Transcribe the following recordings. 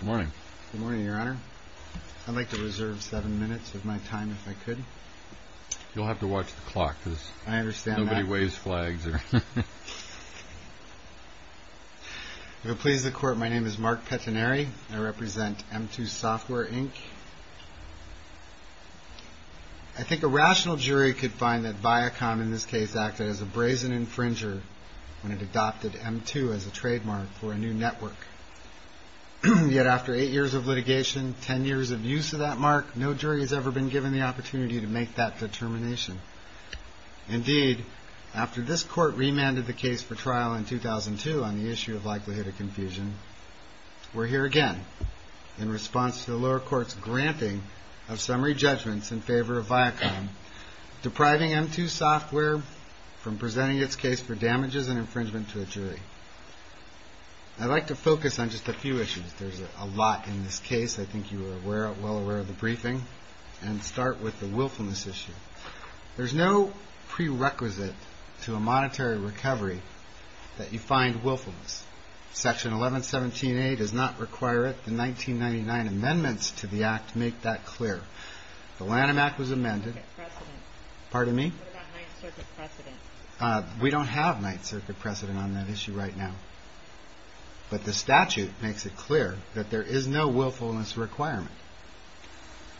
Good morning, Your Honor. I'd like to reserve seven minutes of my time, if I could. You'll have to watch the clock, because nobody waves flags. If it pleases the Court, my name is Mark Pettinari. I represent M2 SOFTWARE, Inc. I think a rational jury could find that Viacom, in this case, acted as a brazen infringer when it adopted M2 as a trademark for a new network. Yet after eight years of litigation, ten years of use of that mark, no jury has ever been given the opportunity to make that determination. Indeed, after this Court remanded the case for trial in 2002 on the issue of likelihood of confusion, we're here again in response to the lower court's granting of summary judgments in favor of Viacom, depriving M2 SOFTWARE from presenting its case for damages and infringement to a jury. I'd like to focus on just a few issues. There's a lot in this case. I think you are well aware of the briefing. And start with the willfulness issue. There's no prerequisite to a monetary recovery that you find willfulness. Section 1117A does not require it. The 1999 amendments to the Act make that clear. The Lanham Act was amended. What about 9th Circuit precedent? We don't have 9th Circuit precedent on that issue right now. But the statute makes it clear that there is no willfulness requirement.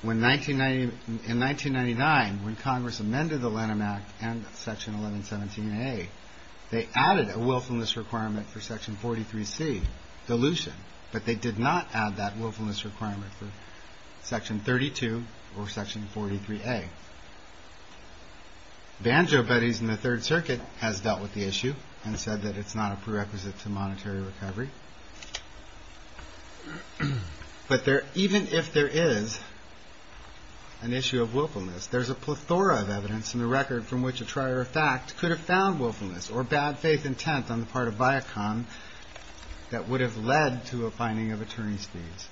In 1999, when Congress amended the Lanham Act and Section 1117A, they added a willfulness requirement for Section 43C, dilution, but they did not add that willfulness requirement for Section 32 or Section 43A. Banjo Buddies in the 3rd Circuit has dealt with the issue and said that it's not a prerequisite to monetary recovery. But even if there is an issue of willfulness, there's a plethora of evidence in the record from which a trier of fact could have found willfulness or bad faith intent on the part of Viacom that would have led to a finding of attorney's fees.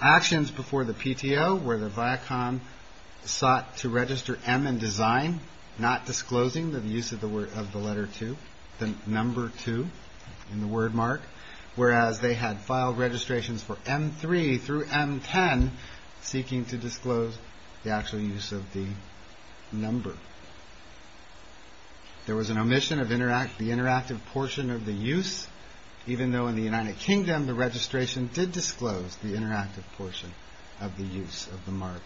Actions before the PTO where the Viacom sought to register M in design, not disclosing the use of the letter 2, the number 2 in the word mark, whereas they had filed registrations for M3 through M10 seeking to disclose the actual use of the number. There was an omission of the interactive portion of the use, even though in the United Kingdom the registration did disclose the interactive portion of the use of the mark.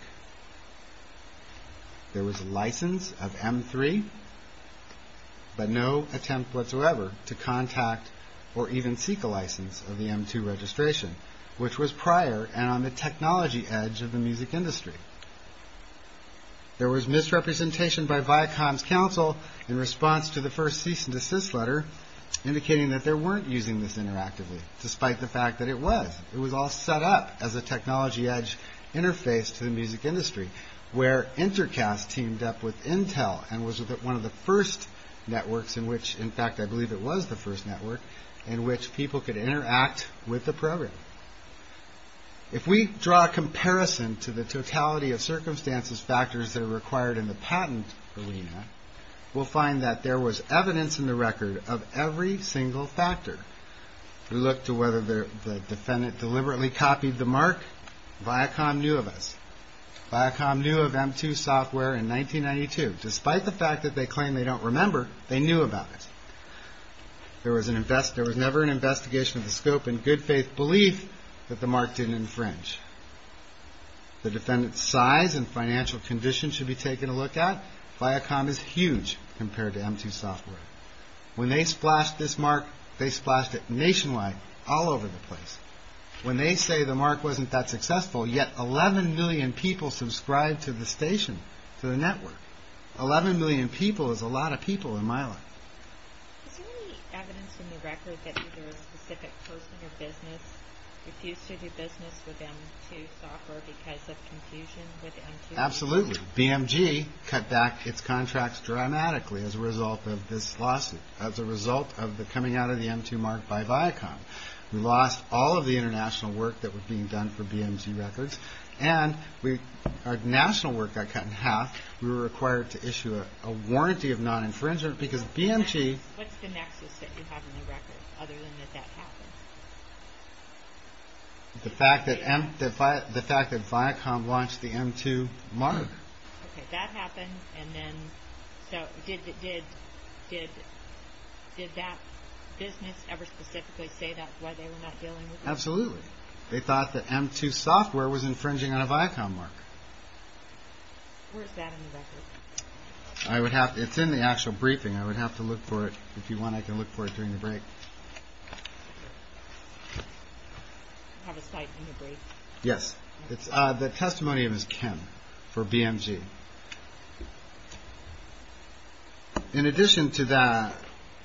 There was license of M3, but no attempt whatsoever to contact or even seek a license of the M2 registration, which was prior and on the technology edge of the music industry. There was misrepresentation by Viacom's counsel in response to the first cease and desist letter, indicating that they weren't using this interactively, despite the fact that it was. It was all set up as a technology edge interface to the music industry where Intercast teamed up with Intel and was one of the first networks in which, in fact I believe it was the first network, in which people could interact with the program. If we draw a comparison to the totality of circumstances, factors that are required in the patent arena, we'll find that there was evidence in the record of every single factor. If we look to whether the defendant deliberately copied the mark, Viacom knew of us. Viacom knew of M2 software in 1992. Despite the fact that they claim they don't remember, they knew about it. There was never an investigation of the scope and good faith belief that the mark didn't infringe. The defendant's size and financial condition should be taken a look at. Viacom is huge compared to M2 software. When they splashed this mark, they splashed it nationwide, all over the place. When they say the mark wasn't that successful, yet 11 million people subscribed to the station, to the network. 11 million people is a lot of people in my life. Absolutely. BMG cut back its contracts dramatically as a result of this lawsuit, as a result of the coming out of the M2 mark by Viacom. We lost all of the international work that was being done for BMG records, and our national work got cut in half. We were required to issue a warranty of non-infringement, because BMG... What's the nexus that you have in the record, other than that that happened? The fact that Viacom launched the M2 mark. Okay, that happened, and then, so did that business ever specifically say that, why they were not dealing with it? Absolutely. They thought that M2 software was infringing on a Viacom mark. Where is that in the record? It's in the actual briefing. I would have to look for it. If you want, I can look for it during the break. Do you have a cite from the brief? Yes. The testimony is Ken, for BMG. In addition to that,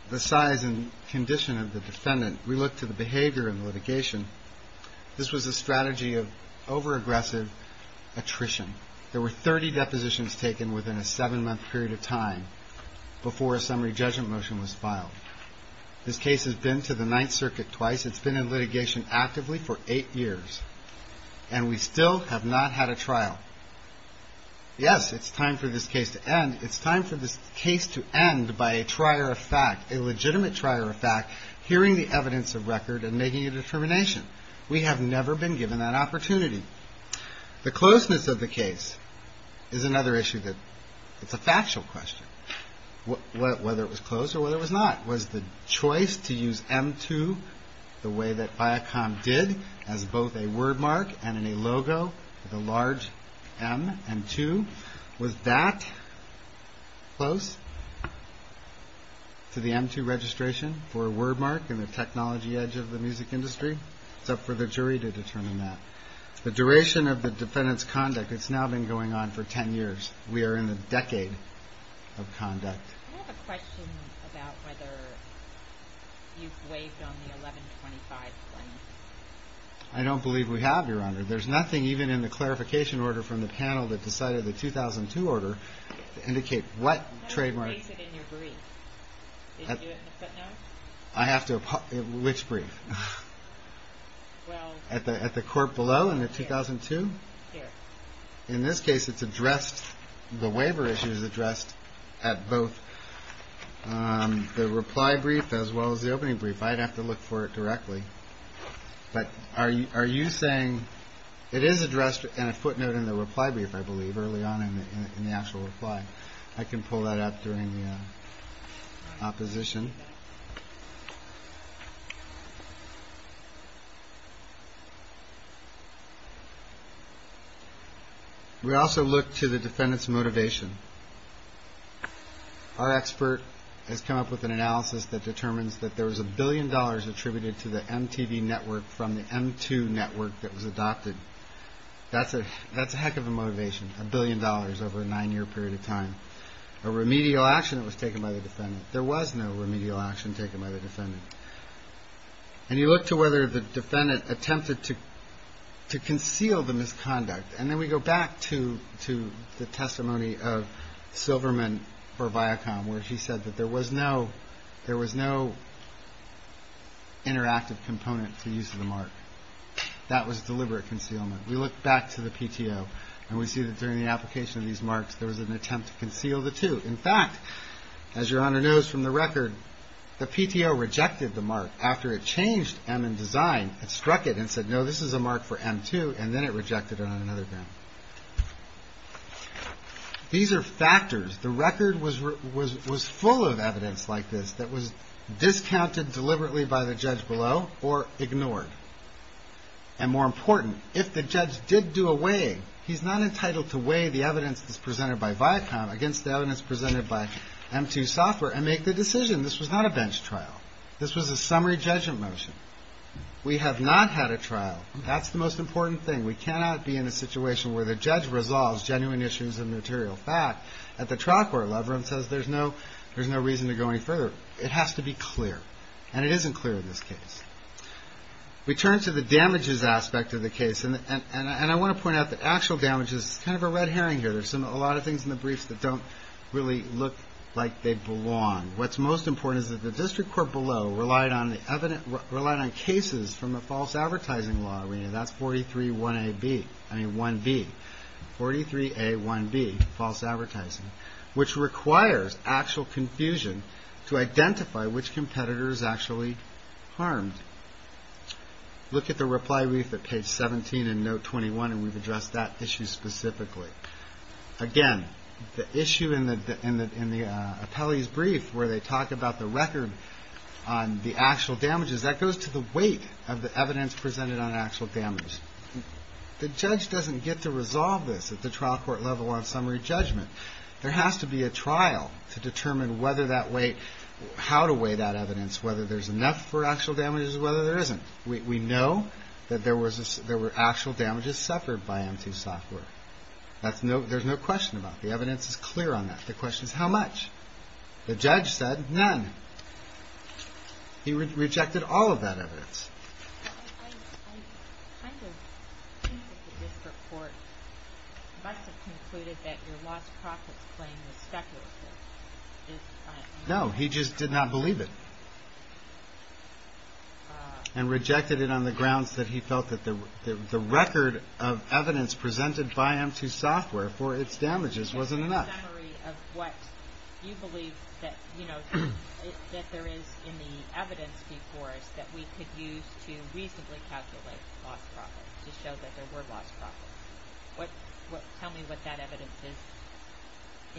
the size and condition of the defendant, we look to the behavior and litigation. This was a strategy of over-aggressive attrition. There were 30 depositions taken within a seven-month period of time before a summary judgment motion was filed. This case has been to the Ninth Circuit twice. It's been in litigation actively for eight years, and we still have not had a trial. Yes, it's time for this case to end. It's time for this case to end by a trier of fact, a legitimate trier of fact, hearing the evidence of record and making a determination. We have never been given that opportunity. The closeness of the case is another issue that's a factual question, whether it was close or whether it was not. Was the choice to use M2 the way that Viacom did, as both a wordmark and a logo, the large M and 2, was that close to the M2 registration for a wordmark in the technology edge of the music industry? It's up for the jury to determine that. The duration of the defendant's conduct, it's now been going on for 10 years. We are in the decade of conduct. I have a question about whether you've waived on the 1125 claim. I don't believe we have, Your Honor. There's nothing even in the clarification order from the panel that decided the 2002 order to indicate what trademark. You have to raise it in your brief. Did you do it in the footnote? Which brief? At the court below in the 2002? Here. In this case, it's addressed. The waiver issue is addressed at both the reply brief as well as the opening brief. I'd have to look for it directly. But are you are you saying it is addressed in a footnote in the reply brief? I believe early on in the actual reply. I can pull that up during the opposition. We also look to the defendant's motivation. Our expert has come up with an analysis that determines that there was a billion dollars attributed to the MTV network from the M2 network that was adopted. That's a that's a heck of a motivation. A billion dollars over a nine year period of time. A remedial action that was taken by the defendant. There was no remedial action taken by the defendant. And you look to whether the defendant attempted to to conceal the misconduct. And then we go back to to the testimony of Silverman for Viacom, where he said that there was no there was no interactive component to use of the mark. That was deliberate concealment. We look back to the PTO and we see that during the application of these marks, there was an attempt to conceal the two. In fact, as your honor knows from the record, the PTO rejected the mark after it changed. And in design, it struck it and said, no, this is a mark for M2. And then it rejected it on another. These are factors. The record was was was full of evidence like this that was discounted deliberately by the judge below or ignored. And more important, if the judge did do away, he's not entitled to weigh the evidence that's presented by Viacom against the evidence presented by M2 software and make the decision. This was not a bench trial. This was a summary judgment motion. We have not had a trial. That's the most important thing. We cannot be in a situation where the judge resolves genuine issues of material fact at the trial court level and says there's no there's no reason to go any further. It has to be clear and it isn't clear in this case. We turn to the damages aspect of the case. And I want to point out the actual damage is kind of a red herring here. There's a lot of things in the briefs that don't really look like they belong. What's most important is that the district court below relied on the evident relied on cases from a false advertising law. I mean, that's forty three one A B. I mean, one B. Forty three A one B false advertising, which requires actual confusion to identify which competitors actually harmed. Look at the reply. We have the page 17 and no 21. We've addressed that issue specifically again. The issue in the in the in the appellee's brief where they talk about the record on the actual damages that goes to the weight of the evidence presented on actual damage. The judge doesn't get to resolve this at the trial court level on summary judgment. There has to be a trial to determine whether that way how to weigh that evidence, whether there's enough for actual damages, whether there isn't. We know that there was there were actual damages suffered by M2 software. That's no there's no question about the evidence is clear on that. The question is how much the judge said none. He rejected all of that evidence. No, he just did not believe it. And rejected it on the grounds that he felt that the record of evidence presented by him to software for its damages wasn't enough. What you believe that, you know, that there is in the evidence before us that we could use to reasonably calculate loss to show that there were lost. But tell me what that evidence is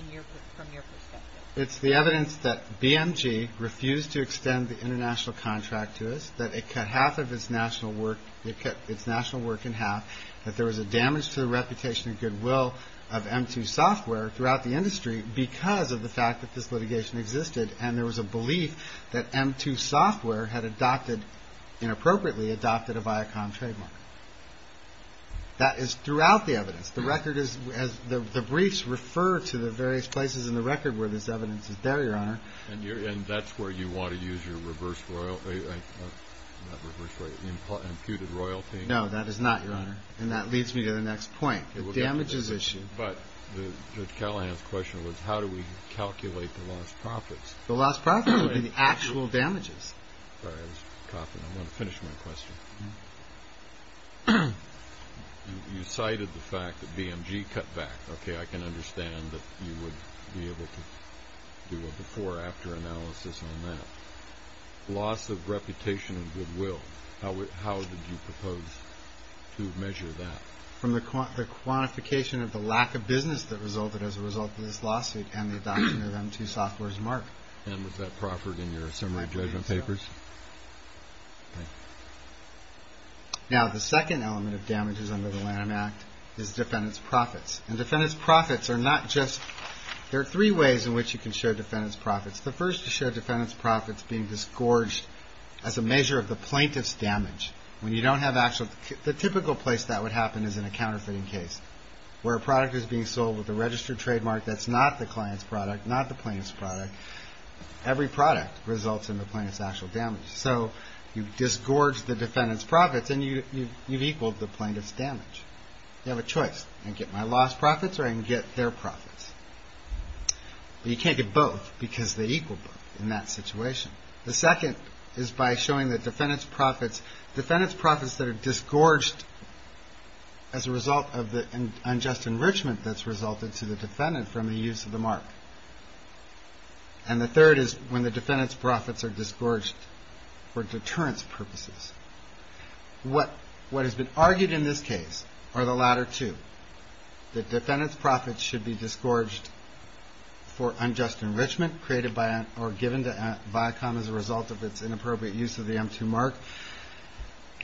in your from your perspective. It's the evidence that BMG refused to extend the international contract to us, that it cut half of its national work. It cut its national work in half, that there was a damage to the reputation and goodwill of M2 software throughout the industry because of the fact that this litigation existed. And there was a belief that M2 software had adopted inappropriately adopted a Viacom trademark. That is throughout the evidence. The record is as the briefs refer to the various places in the record where this evidence is there, Your Honor. And you're and that's where you want to use your reverse royalty. Imputed royalty. No, that is not, Your Honor. And that leads me to the next point. It will damage his issue. But the question was, how do we calculate the lost profits? The last problem in the actual damages. You cited the fact that BMG cut back. Okay, I can understand that you would be able to do a before or after analysis on that. Loss of reputation and goodwill. How did you propose to measure that? From the quantification of the lack of business that resulted as a result of this lawsuit and the adoption of M2 software's mark. And was that proffered in your assembly judgment papers? I believe so. Now, the second element of damages under the Lanham Act is defendant's profits. And defendant's profits are not just, there are three ways in which you can show defendant's profits. The first is to show defendant's profits being disgorged as a measure of the plaintiff's damage. When you don't have actual, the typical place that would happen is in a counterfeiting case. Where a product is being sold with a registered trademark that's not the client's product, not the plaintiff's product. Every product results in the plaintiff's actual damage. So, you disgorge the defendant's profits and you've equaled the plaintiff's damage. You have a choice, I can get my loss profits or I can get their profits. But you can't get both because they equal both in that situation. The second is by showing the defendant's profits, defendant's profits that are disgorged as a result of the unjust enrichment that's resulted to the defendant from the use of the mark. And the third is when the defendant's profits are disgorged for deterrence purposes. What has been argued in this case are the latter two. The defendant's profits should be disgorged for unjust enrichment created by or given to Viacom as a result of its inappropriate use of the M2 mark.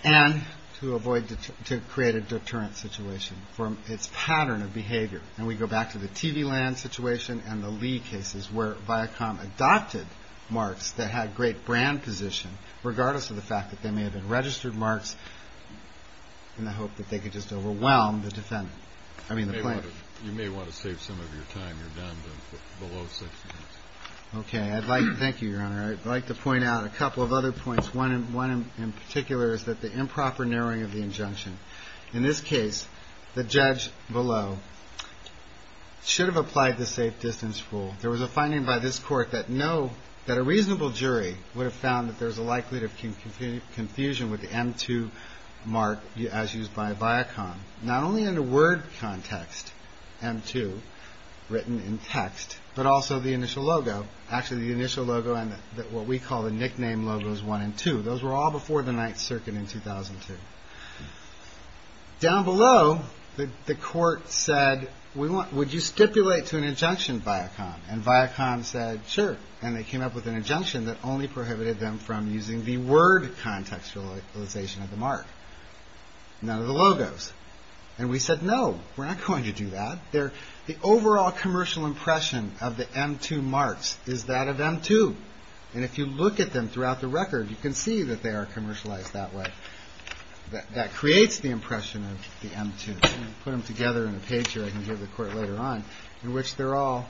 And to avoid, to create a deterrent situation from its pattern of behavior. And we go back to the TV land situation and the Lee cases where Viacom adopted marks that had great brand position. Regardless of the fact that they may have been registered marks in the hope that they could just overwhelm the defendant. I mean the plaintiff. You may want to save some of your time. You're down to below six minutes. Okay. I'd like, thank you, Your Honor. I'd like to point out a couple of other points. One in particular is that the improper narrowing of the injunction. In this case, the judge below should have applied the safe distance rule. There was a finding by this court that no, that a reasonable jury would have found that there's a likelihood of confusion with the M2 mark as used by Viacom. Not only in the word context, M2 written in text, but also the initial logo. Actually the initial logo and what we call the nickname logos one and two. Those were all before the Ninth Circuit in 2002. Down below, the court said, would you stipulate to an injunction Viacom? And Viacom said, sure. And they came up with an injunction that only prohibited them from using the word contextualization of the mark. None of the logos. And we said, no, we're not going to do that. The overall commercial impression of the M2 marks is that of M2. And if you look at them throughout the record, you can see that they are commercialized that way. That creates the impression of the M2. Put them together in a page here, I can give the court later on, in which they're all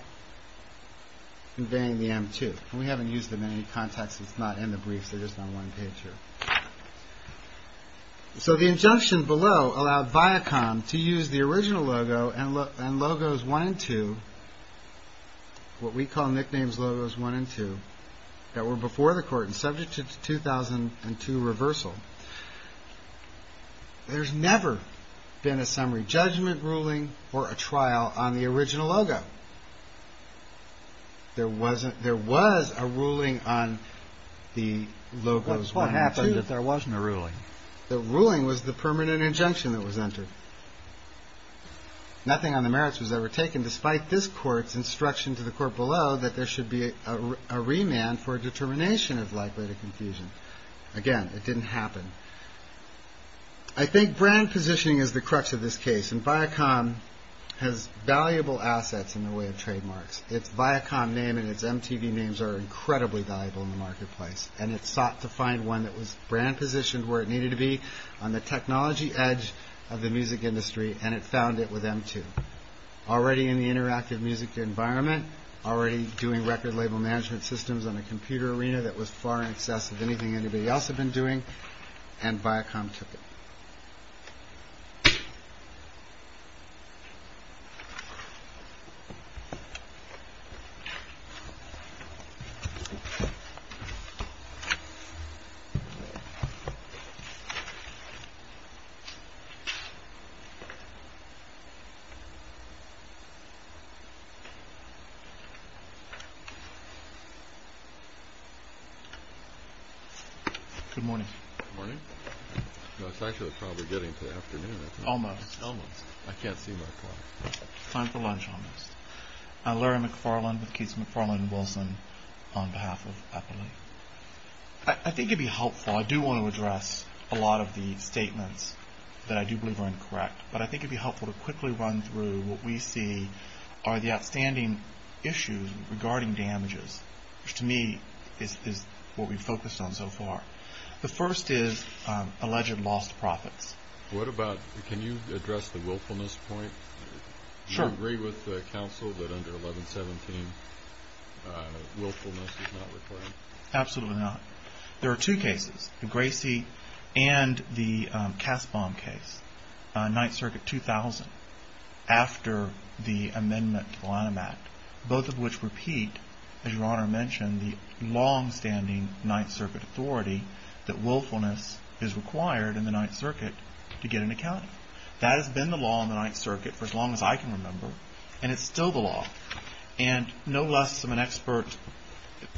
conveying the M2. And we haven't used them in any context. It's not in the briefs. They're just on one page here. So the injunction below allowed Viacom to use the original logo and logos one and two. What we call nicknames logos one and two that were before the court and subject to 2002 reversal. There's never been a summary judgment ruling or a trial on the original logo. There was a ruling on the logos one and two. What happened if there wasn't a ruling? The ruling was the permanent injunction that was entered. Nothing on the merits was ever taken. Despite this court's instruction to the court below that there should be a remand for a determination of likelihood of confusion. Again, it didn't happen. I think brand positioning is the crux of this case. And Viacom has valuable assets in the way of trademarks. Its Viacom name and its MTV names are incredibly valuable in the marketplace. And it sought to find one that was brand positioned where it needed to be on the technology edge of the music industry. And it found it with MTV. Already in the interactive music environment. Already doing record label management systems on a computer arena that was far in excess of anything anybody else had been doing. And Viacom took it. Good morning. Good morning. It's actually probably getting to the afternoon. Almost. Almost. I can't see my clock. Time for lunch almost. Larry McFarland with Keith McFarland and Wilson on behalf of Eppley. I think it would be helpful. I do want to address a lot of the statements that I do believe are incorrect. But I think it would be helpful to quickly run through what we see are the outstanding issues regarding damages. Which to me is what we've focused on so far. The first is alleged lost profits. Can you address the willfulness point? Do you agree with the counsel that under 1117 willfulness is not required? Absolutely not. There are two cases. The Gracie and the Kasbaum case. Ninth Circuit 2000. After the amendment to the Lanham Act. Both of which repeat, as your Honor mentioned, the long-standing Ninth Circuit authority that willfulness is required in the Ninth Circuit to get an account. That has been the law in the Ninth Circuit for as long as I can remember. And it's still the law. And no less of an expert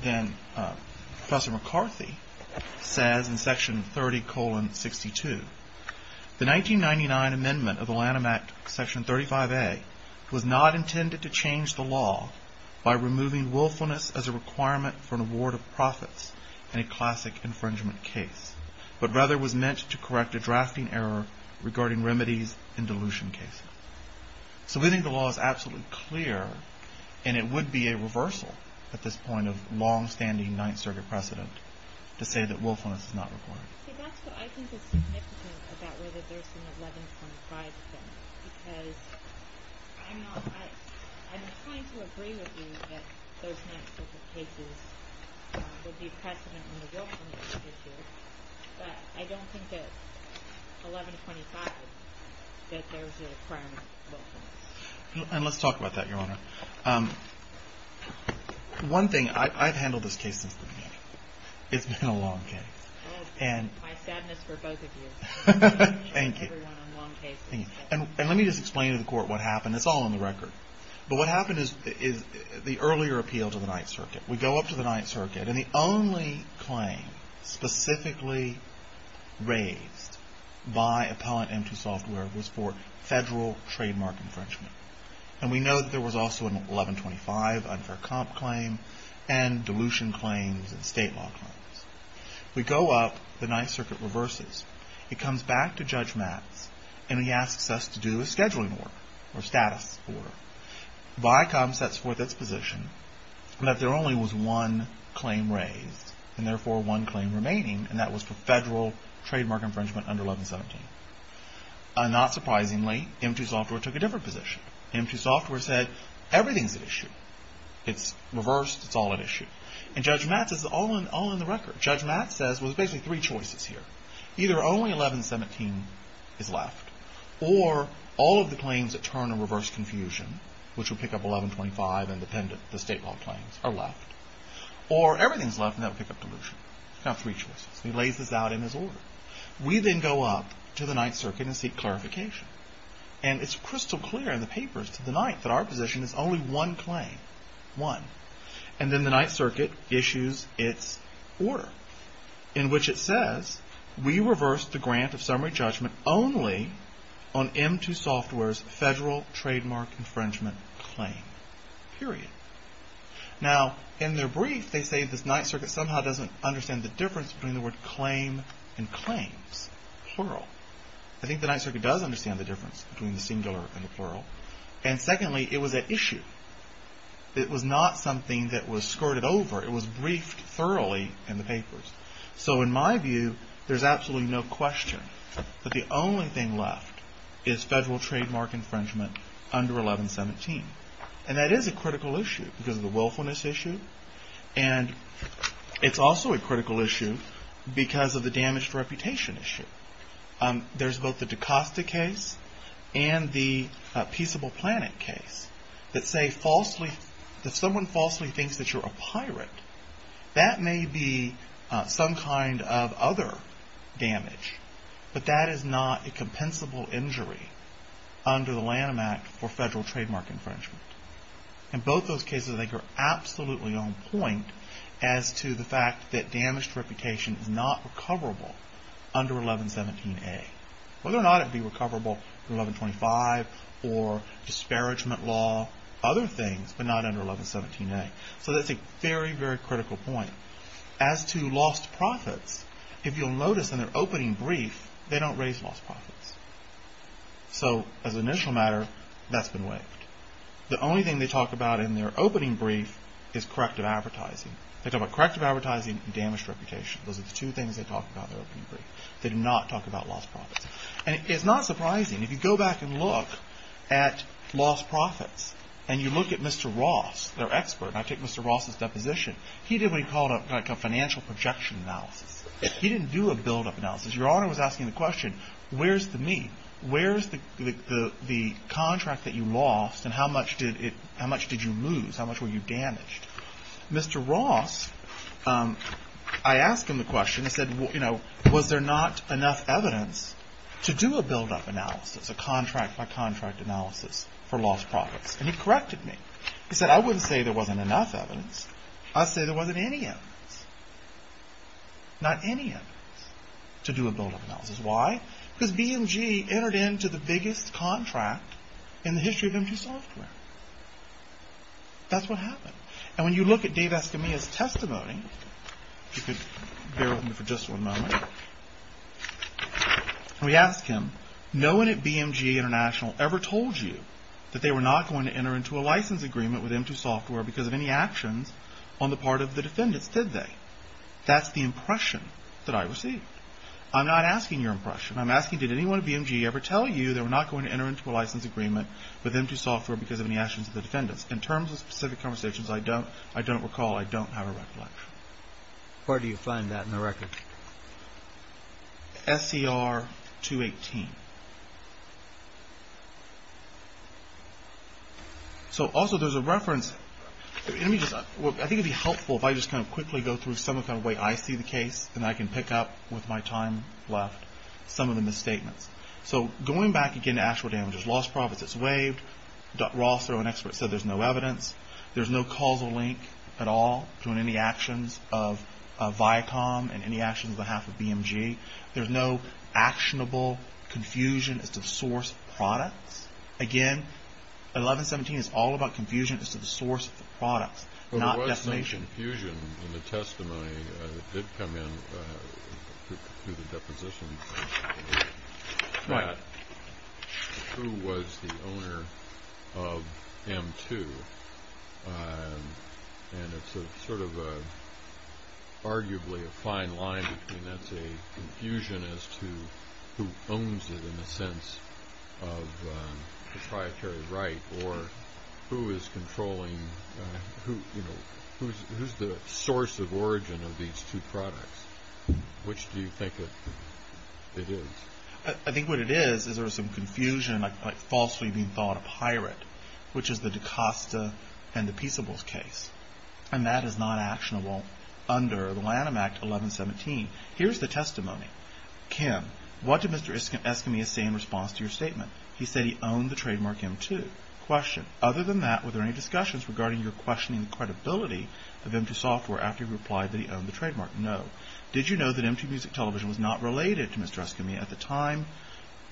than Professor McCarthy says in Section 30-62. The 1999 amendment of the Lanham Act, Section 35A, was not intended to change the law by removing willfulness as a requirement for an award of profits in a classic infringement case. But rather was meant to correct a drafting error regarding remedies in dilution cases. So we think the law is absolutely clear. And it would be a reversal at this point of long-standing Ninth Circuit precedent to say that willfulness is not required. See, that's what I think is significant about whether there's an 1125 thing. Because I'm trying to agree with you that those Ninth Circuit cases would be precedent in the willfulness issue. But I don't think that 1125, that there's a requirement for willfulness. And let's talk about that, your Honor. One thing. I've handled this case since the beginning. It's been a long case. My sadness for both of you. Thank you. And let me just explain to the Court what happened. It's all on the record. But what happened is the earlier appeal to the Ninth Circuit. We go up to the Ninth Circuit. And the only claim specifically raised by Appellant M.T. Software was for federal trademark infringement. And we know that there was also an 1125 unfair comp claim and dilution claims and state law claims. We go up. The Ninth Circuit reverses. It comes back to Judge Matz. And he asks us to do a scheduling order or status order. Viacom sets forth its position that there only was one claim raised and, therefore, one claim remaining. And that was for federal trademark infringement under 1117. Not surprisingly, M.T. Software took a different position. M.T. Software said, everything's at issue. It's reversed. It's all at issue. And Judge Matz says it's all on the record. Judge Matz says, well, there's basically three choices here. Either only 1117 is left or all of the claims that turn a reverse confusion, which would pick up 1125 and the state law claims, are left. Or everything's left and that would pick up dilution. You've got three choices. And he lays this out in his order. We then go up to the Ninth Circuit and seek clarification. And it's crystal clear in the papers to the Ninth that our position is only one claim. One. And then the Ninth Circuit issues its order in which it says, we reverse the grant of summary judgment only on M.T. Software's federal trademark infringement claim. Period. Now, in their brief, they say the Ninth Circuit somehow doesn't understand the difference between the word claim and claims. Plural. I think the Ninth Circuit does understand the difference between the singular and the plural. And secondly, it was at issue. It was not something that was skirted over. It was briefed thoroughly in the papers. So in my view, there's absolutely no question that the only thing left is federal trademark infringement under 1117. And that is a critical issue because of the willfulness issue. And it's also a critical issue because of the damaged reputation issue. There's both the Dacosta case and the Peaceable Planet case that say that if someone falsely thinks that you're a pirate, that may be some kind of other damage. But that is not a compensable injury under the Lanham Act for federal trademark infringement. In both those cases, they are absolutely on point as to the fact that damaged reputation is not recoverable under 1117A. Whether or not it be recoverable under 1125 or disparagement law, other things, but not under 1117A. So that's a very, very critical point. As to lost profits, if you'll notice in their opening brief, they don't raise lost profits. So as an initial matter, that's been waived. The only thing they talk about in their opening brief is corrective advertising. They talk about corrective advertising and damaged reputation. Those are the two things they talk about in their opening brief. They do not talk about lost profits. And it's not surprising. If you go back and look at lost profits and you look at Mr. Ross, their expert, and I take Mr. Ross's deposition, he did what he called a financial projection analysis. He didn't do a buildup analysis. Your Honor was asking the question, where's the meat? Where's the contract that you lost and how much did you lose? How much were you damaged? Mr. Ross, I asked him the question. I said, was there not enough evidence to do a buildup analysis, a contract-by-contract analysis for lost profits? And he corrected me. He said, I wouldn't say there wasn't enough evidence. I'd say there wasn't any evidence, not any evidence to do a buildup analysis. Why? Because BMG entered into the biggest contract in the history of M2 Software. That's what happened. And when you look at Dave Escamilla's testimony, if you could bear with me for just one moment, we ask him, no one at BMG International ever told you that they were not going to enter into a license agreement with M2 Software because of any actions on the part of the defendants, did they? That's the impression that I received. I'm not asking your impression. I'm asking, did anyone at BMG ever tell you they were not going to enter into a license agreement with M2 Software because of any actions of the defendants? In terms of specific conversations, I don't recall. I don't have a recollection. Where do you find that in the record? SCR 218. So, also, there's a reference. I think it would be helpful if I just kind of quickly go through some kind of way I see the case, and I can pick up, with my time left, some of the misstatements. So, going back, again, to actual damages. Lost profits, it's waived. Ross, though, an expert, said there's no evidence. There's no causal link at all between any actions of Viacom and any actions on behalf of BMG. There's no actionable confusion as to the source of products. Again, 1117 is all about confusion as to the source of the products, not defamation. There was some confusion in the testimony that did come in through the deposition. What? Who was the owner of M2, and it's sort of arguably a fine line between that's a confusion as to who owns it, in a sense, of proprietary right, or who is controlling, you know, who's the source of origin of these two products. Which do you think it is? I think what it is is there was some confusion, like falsely being thought a pirate, which is the DaCosta and the Peaceables case. And that is not actionable under the Lanham Act 1117. Here's the testimony. Kim, what did Mr. Eskami say in response to your statement? He said he owned the trademark M2. Question. Other than that, were there any discussions regarding your questioning the credibility of M2 Software after he replied that he owned the trademark? No. Did you know that M2 Music Television was not related to Mr. Eskami at the time?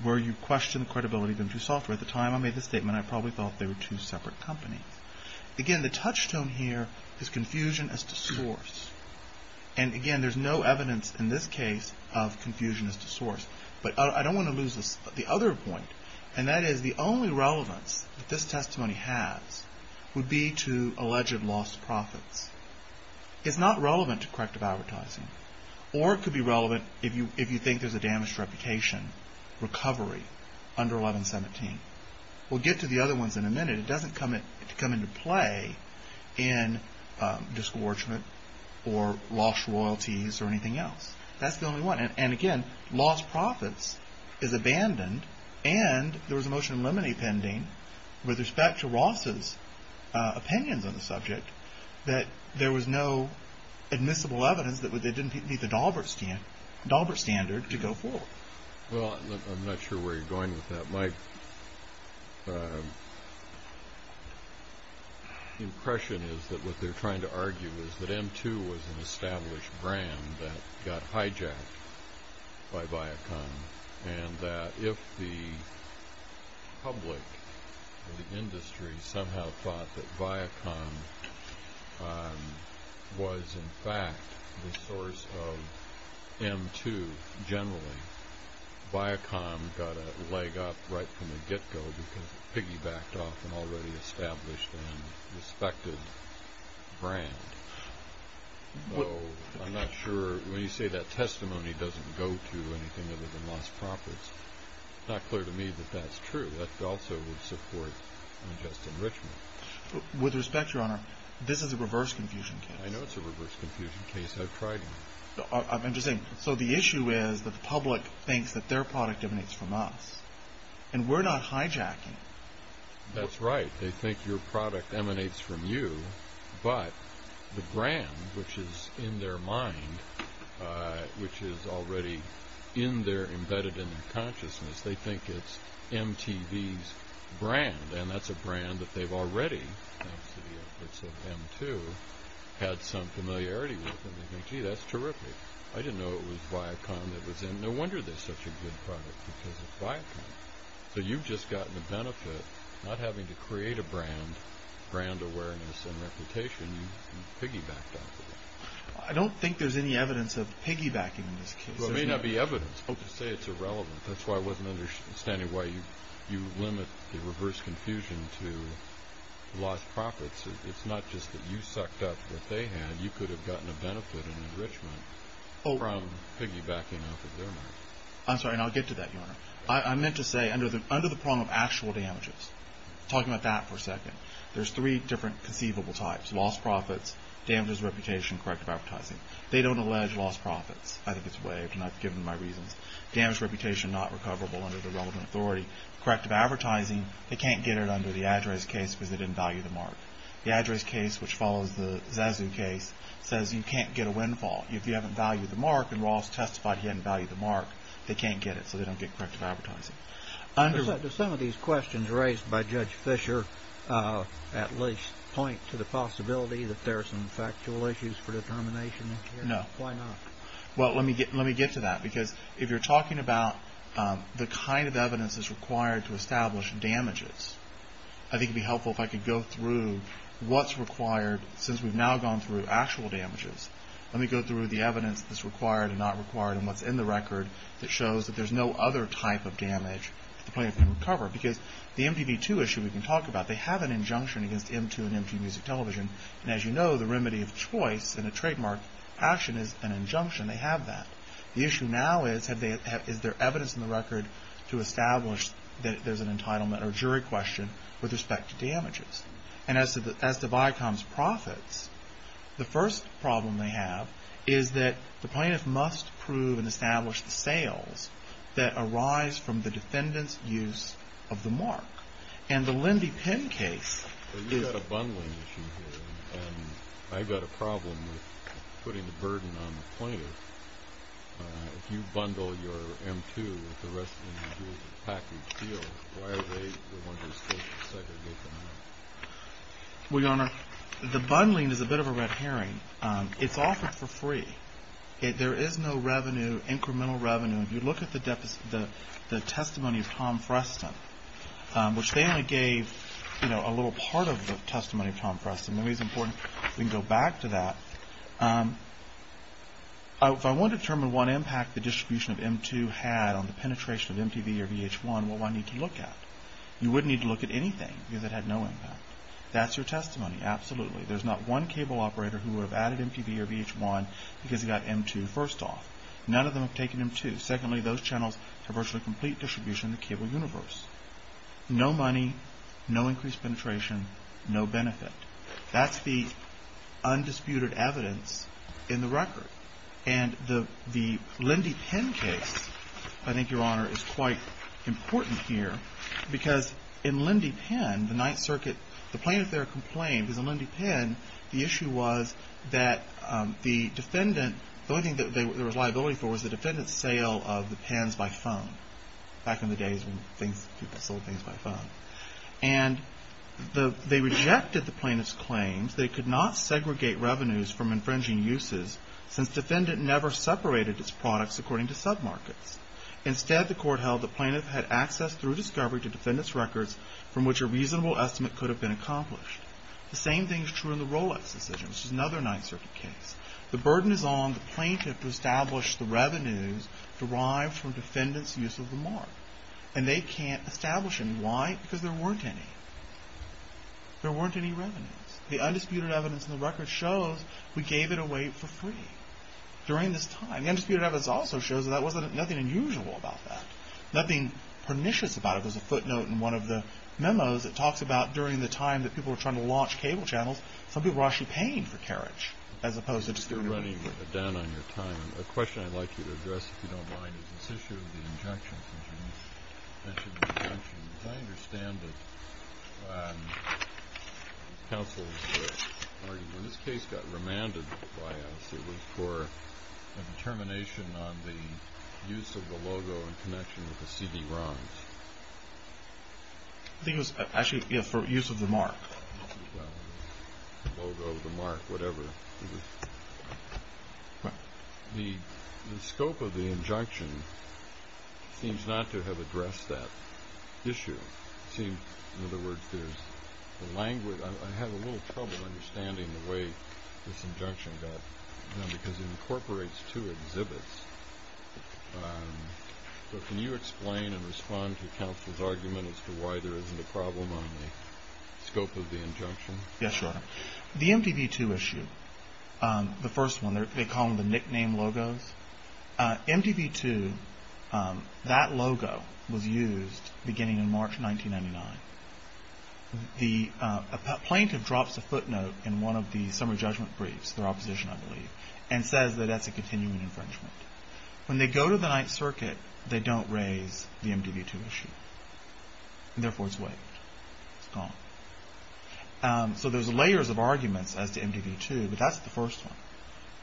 Were you questioning the credibility of M2 Software? At the time I made this statement, I probably thought they were two separate companies. Again, the touchstone here is confusion as to source. And again, there's no evidence in this case of confusion as to source. But I don't want to lose the other point. And that is the only relevance that this testimony has would be to alleged lost profits. It's not relevant to corrective advertising. Or it could be relevant if you think there's a damaged reputation recovery under 1117. We'll get to the other ones in a minute. It doesn't come into play in discouragement or lost royalties or anything else. That's the only one. And again, lost profits is abandoned. And there was a motion in limine pending with respect to Ross's opinions on the subject that there was no admissible evidence that they didn't meet the Daubert standard to go forward. Well, I'm not sure where you're going with that. My impression is that what they're trying to argue is that M2 was an established brand that got hijacked by Viacom. And that if the public or the industry somehow thought that Viacom was in fact the source of M2 generally, Viacom got a leg up right from the get-go because it piggybacked off an already established and respected brand. So I'm not sure. When you say that testimony doesn't go to anything other than lost profits, it's not clear to me that that's true. That also would support unjust enrichment. With respect, Your Honor, this is a reverse confusion case. I know it's a reverse confusion case. I've tried it. I'm just saying. So the issue is that the public thinks that their product emanates from us, and we're not hijacking. That's right. They think your product emanates from you, but the brand which is in their mind, which is already in their embedded in their consciousness, they think it's MTV's brand. And that's a brand that they've already, thanks to the efforts of M2, had some familiarity with. And they think, gee, that's terrific. I didn't know it was Viacom that was in it. No wonder they're such a good product, because it's Viacom. So you've just gotten the benefit not having to create a brand, brand awareness and reputation. You piggybacked off of it. I don't think there's any evidence of piggybacking in this case. There may not be evidence. I'm supposed to say it's irrelevant. That's why I wasn't understanding why you limit the reverse confusion to lost profits. It's not just that you sucked up what they had. You could have gotten a benefit and enrichment from piggybacking off of their mark. I'm sorry, and I'll get to that, Your Honor. I meant to say under the prong of actual damages, talking about that for a second, there's three different conceivable types, lost profits, damaged reputation, corrective advertising. They don't allege lost profits. I think it's waived, and I've given my reasons. Damaged reputation, not recoverable under the relevant authority. Corrective advertising, they can't get it under the address case because they didn't value the mark. The address case, which follows the Zazu case, says you can't get a windfall if you haven't valued the mark, and Ross testified he hadn't valued the mark. They can't get it, so they don't get corrective advertising. Does some of these questions raised by Judge Fisher at least point to the possibility that there are some factual issues for determination? No. Why not? Well, let me get to that because if you're talking about the kind of evidence that's required to establish damages, I think it would be helpful if I could go through what's required since we've now gone through actual damages. Let me go through the evidence that's required and not required and what's in the record that shows that there's no other type of damage that the plaintiff can recover because the MTV2 issue we can talk about, they have an injunction against MTV2 and MTV Music Television, and as you know, the remedy of choice in a trademark action is an injunction. They have that. The issue now is, is there evidence in the record to establish that there's an entitlement or jury question with respect to damages? And as to Viacom's profits, the first problem they have is that the plaintiff must prove and establish the sales that arise from the defendant's use of the mark. Well, you've got a bundling issue here, and I've got a problem with putting the burden on the plaintiff. If you bundle your M2 with the rest of the package deal, why are they the ones who are supposed to segregate them? Well, Your Honor, the bundling is a bit of a red herring. It's offered for free. There is no revenue, incremental revenue. If you look at the testimony of Tom Freston, which they only gave a little part of the testimony of Tom Freston, the reason for it, we can go back to that. If I want to determine what impact the distribution of M2 had on the penetration of MTV or VH1, what do I need to look at? You wouldn't need to look at anything because it had no impact. That's your testimony, absolutely. There's not one cable operator who would have added MTV or VH1 because he got M2 first off. None of them have taken M2. Secondly, those channels have virtually complete distribution in the cable universe. No money, no increased penetration, no benefit. That's the undisputed evidence in the record. And the Lindy Penn case, I think, Your Honor, is quite important here because in Lindy Penn, the Ninth Circuit, the plaintiff there complained because in Lindy Penn, the issue was that the defendant, the only thing that there was liability for was the defendant's sale of the pens by phone, back in the days when people sold things by phone. And they rejected the plaintiff's claims that it could not segregate revenues from infringing uses since defendant never separated its products according to sub-markets. Instead, the court held the plaintiff had access through discovery to defendant's records from which a reasonable estimate could have been accomplished. The same thing is true in the Rolex decision, which is another Ninth Circuit case. The burden is on the plaintiff to establish the revenues derived from defendant's use of the mark. And they can't establish them. Why? Because there weren't any. There weren't any revenues. The undisputed evidence in the record shows we gave it away for free during this time. The undisputed evidence also shows that there was nothing unusual about that, nothing pernicious about it. There's a footnote in one of the memos that talks about during the time that people were trying to launch cable channels, some people were actually paying for carriage, as opposed to just giving it away. You're running down on your time. A question I'd like you to address, if you don't mind, is this issue of the injection system. As I understand it, counsel's argument in this case got remanded by us. It was for a determination on the use of the logo in connection with the CD-ROMs. I think it was actually for use of the mark. The logo, the mark, whatever. The scope of the injunction seems not to have addressed that issue. In other words, I have a little trouble understanding the way this injunction got done because it incorporates two exhibits. So can you explain and respond to counsel's argument as to why there isn't a problem on the scope of the injunction? Yes, sir. The MDV-2 issue, the first one, they call them the nickname logos. MDV-2, that logo was used beginning in March 1999. The plaintiff drops a footnote in one of the summary judgment briefs, their opposition, I believe, and says that that's a continuing infringement. When they go to the Ninth Circuit, they don't raise the MDV-2 issue. Therefore, it's waived. It's gone. So there's layers of arguments as to MDV-2, but that's the first one.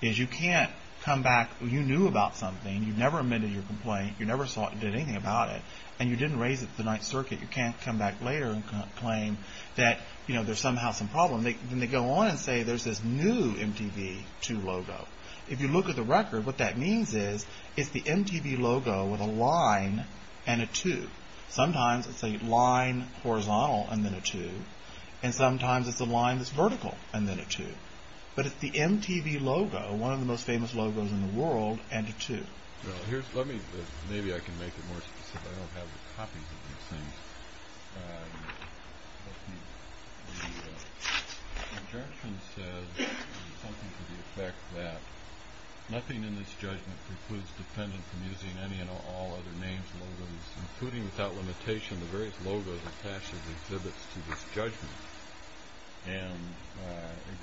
You can't come back. You knew about something. You never amended your complaint. You never did anything about it, and you didn't raise it at the Ninth Circuit. You can't come back later and claim that there's somehow some problem. Then they go on and say there's this new MDV-2 logo. If you look at the record, what that means is it's the MDV logo with a line and a 2. Sometimes it's a line horizontal and then a 2, and sometimes it's a line that's vertical and then a 2. But it's the MDV logo, one of the most famous logos in the world, and a 2. Maybe I can make it more specific. I don't have the copies of these things. The objection says something to the effect that nothing in this judgment precludes defendants from using any and all other names, logos, including without limitation the various logos attached as exhibits to this judgment.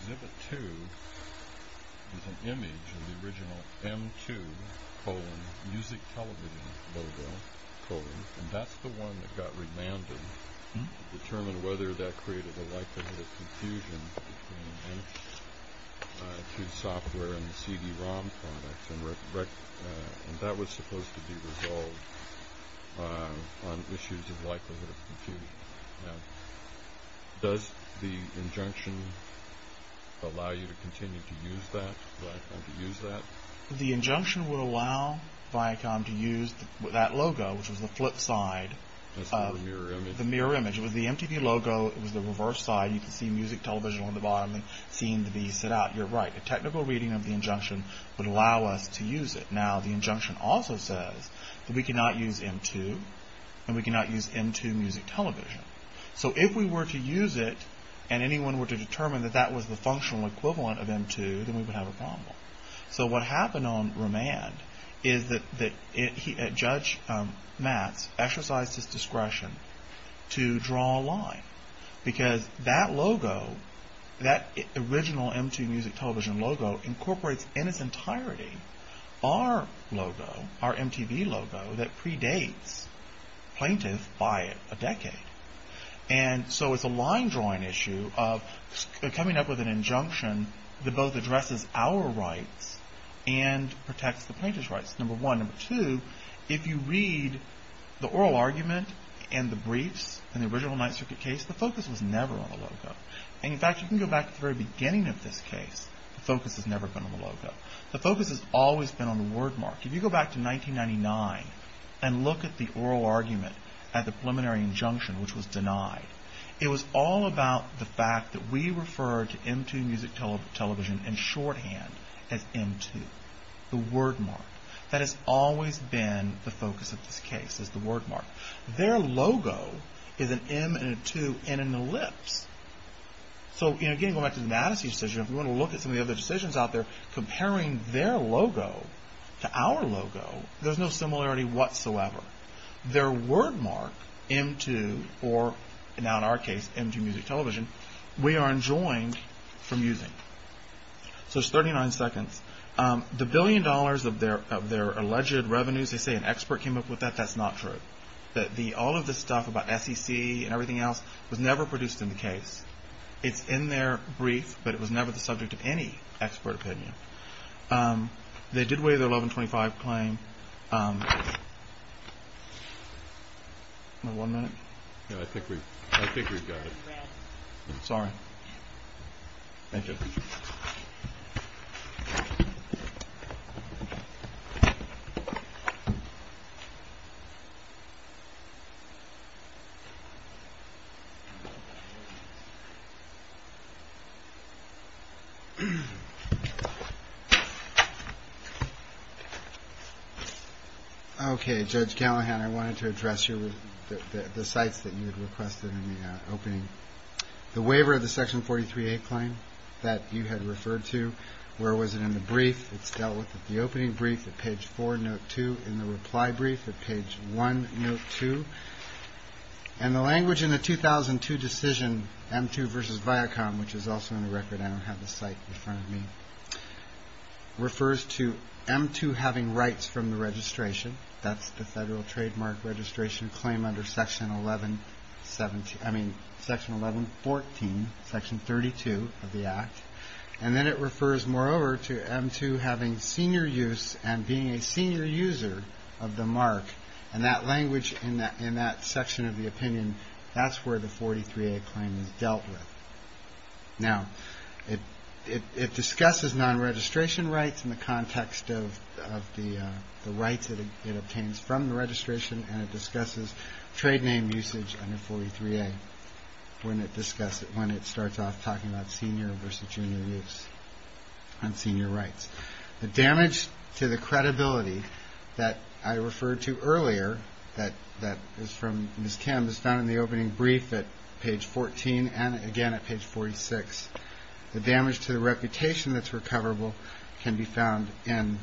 Exhibit 2 is an image of the original M2 music television logo, and that's the one that got remanded to determine whether that created a likelihood of confusion between M2 software and the CD-ROM products. That was supposed to be resolved on issues of likelihood of confusion. Now, does the injunction allow you to continue to use that, Viacom to use that? The injunction would allow Viacom to use that logo, which was the flip side of the mirror image. It was the MDV logo. It was the reverse side. You could see music television on the bottom and seeing the B sit out. You're right. A technical reading of the injunction would allow us to use it. Now, the injunction also says that we cannot use M2 and we cannot use M2 music television. So if we were to use it and anyone were to determine that that was the functional equivalent of M2, then we would have a problem. So what happened on remand is that Judge Matz exercised his discretion to draw a line, because that logo, that original M2 music television logo, incorporates in its entirety our logo, our MTV logo, that predates plaintiff by a decade. And so it's a line-drawing issue of coming up with an injunction that both addresses our rights and protects the plaintiff's rights, number one. Number two, if you read the oral argument and the briefs in the original Ninth Circuit case, the focus was never on the logo. And, in fact, you can go back to the very beginning of this case, the focus has never been on the logo. The focus has always been on the word mark. If you go back to 1999 and look at the oral argument at the preliminary injunction, which was denied, it was all about the fact that we referred to M2 music television in shorthand as M2, the word mark. That has always been the focus of this case, is the word mark. Their logo is an M and a 2 and an ellipse. So, again, going back to the Madison decision, if we want to look at some of the other decisions out there, comparing their logo to our logo, there's no similarity whatsoever. Their word mark, M2, or now in our case, M2 music television, we are enjoined from using. So it's 39 seconds. The billion dollars of their alleged revenues, they say an expert came up with that. That's not true. All of the stuff about SEC and everything else was never produced in the case. It's in their brief, but it was never the subject of any expert opinion. They did waive their 1125 claim. One minute. I think we've got it. Sorry. Thank you. OK, Judge Callahan, I wanted to address you with the sites that you had requested in the opening. The waiver of the Section 43A claim that you had referred to. Where was it in the brief? It's dealt with at the opening brief at page four, note two. In the reply brief at page one, note two. And the language in the 2002 decision, M2 versus Viacom, which is also in the record, I don't have the site in front of me, refers to M2 having rights from the registration. That's the federal trademark registration claim under Section 1117. I mean, Section 1114, Section 32 of the Act. And then it refers, moreover, to M2 having senior use and being a senior user of the mark. And that language in that section of the opinion, that's where the 43A claim is dealt with. Now, it discusses non-registration rights in the context of the rights it obtains from the registration, and it discusses trade name usage under 43A when it starts off talking about senior versus junior use on senior rights. The damage to the credibility that I referred to earlier, that is from Ms. Kim, is found in the opening brief at page 14 and, again, at page 46. The damage to the reputation that's recoverable can be found and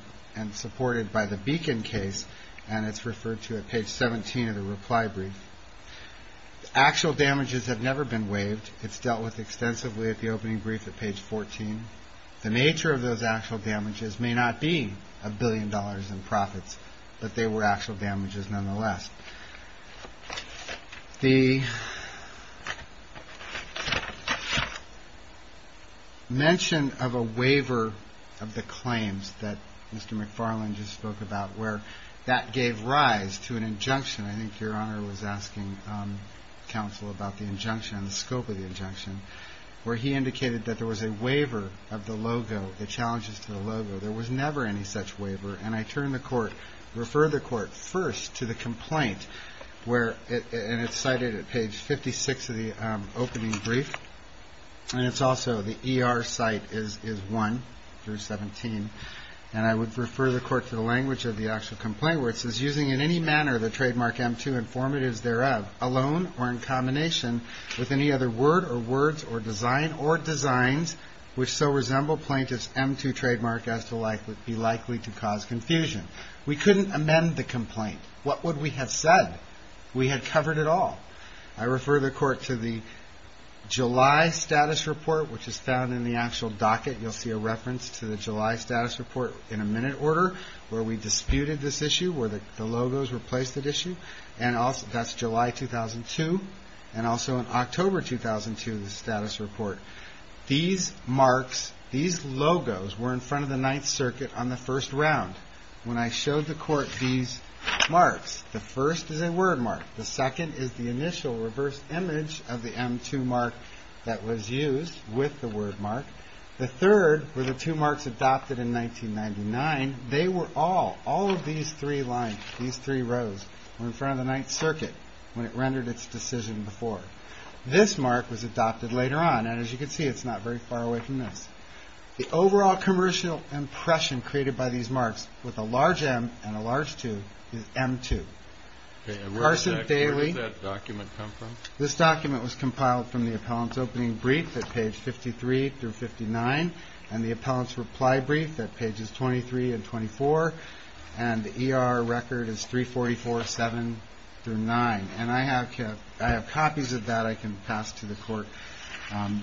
supported by the Beacon case, and it's referred to at page 17 of the reply brief. Actual damages have never been waived. It's dealt with extensively at the opening brief at page 14. The nature of those actual damages may not be a billion dollars in profits, but they were actual damages nonetheless. The mention of a waiver of the claims that Mr. McFarland just spoke about, where that gave rise to an injunction. I think Your Honor was asking counsel about the injunction and the scope of the injunction, where he indicated that there was a waiver of the logo, the challenges to the logo. There was never any such waiver, and I turn the court, refer the court first to the complaint, and it's cited at page 56 of the opening brief, and it's also the ER site is 1 through 17, and I would refer the court to the language of the actual complaint where it says, using in any manner the trademark M2 informatives thereof alone or in combination with any other word or words or design or designs which so resemble plaintiff's M2 trademark as to be likely to cause confusion. We couldn't amend the complaint. What would we have said? We had covered it all. I refer the court to the July status report, which is found in the actual docket. You'll see a reference to the July status report in a minute order where we disputed this issue, where the logos replaced the issue, and that's July 2002, and also in October 2002, the status report. These marks, these logos were in front of the Ninth Circuit on the first round. When I showed the court these marks, the first is a word mark. The second is the initial reverse image of the M2 mark that was used with the word mark. The third were the two marks adopted in 1999. They were all, all of these three lines, these three rows were in front of the Ninth Circuit when it rendered its decision before. This mark was adopted later on, and as you can see, it's not very far away from this. The overall commercial impression created by these marks with a large M and a large 2 is M2. Okay, and where exactly does that document come from? This document was compiled from the appellant's opening brief at page 53 through 59 and the appellant's reply brief at pages 23 and 24, and the ER record is 344.7 through 9, and I have copies of that I can pass to the court. In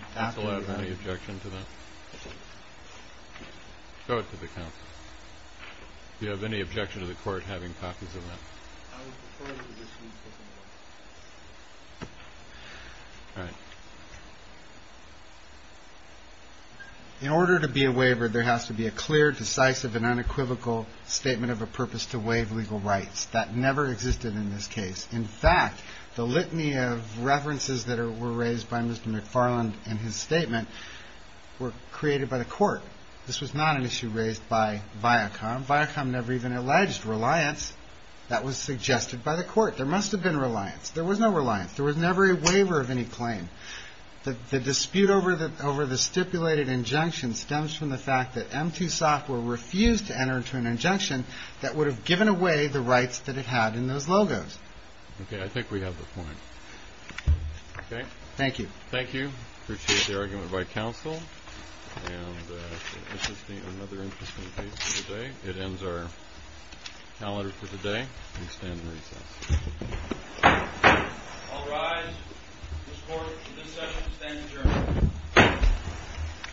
order to be a waiver, there has to be a clear, decisive and unequivocal statement of a purpose to waive legal rights that never existed in this case. In fact, the litany of references that were raised by Mr. McFarland in his statement were created by the court. This was not an issue raised by Viacom. Viacom never even alleged reliance that was suggested by the court. There must have been reliance. There was no reliance. There was never a waiver of any claim. The dispute over the stipulated injunction stems from the fact that M2 software refused to enter into an injunction that would have given away the rights that it had in those logos. Okay. I think we have the point. Okay. Thank you. Thank you. I appreciate the argument by counsel. And this is another interesting case for the day. It ends our calendar for the day. We stand in recess. I'll rise. This session stands adjourned.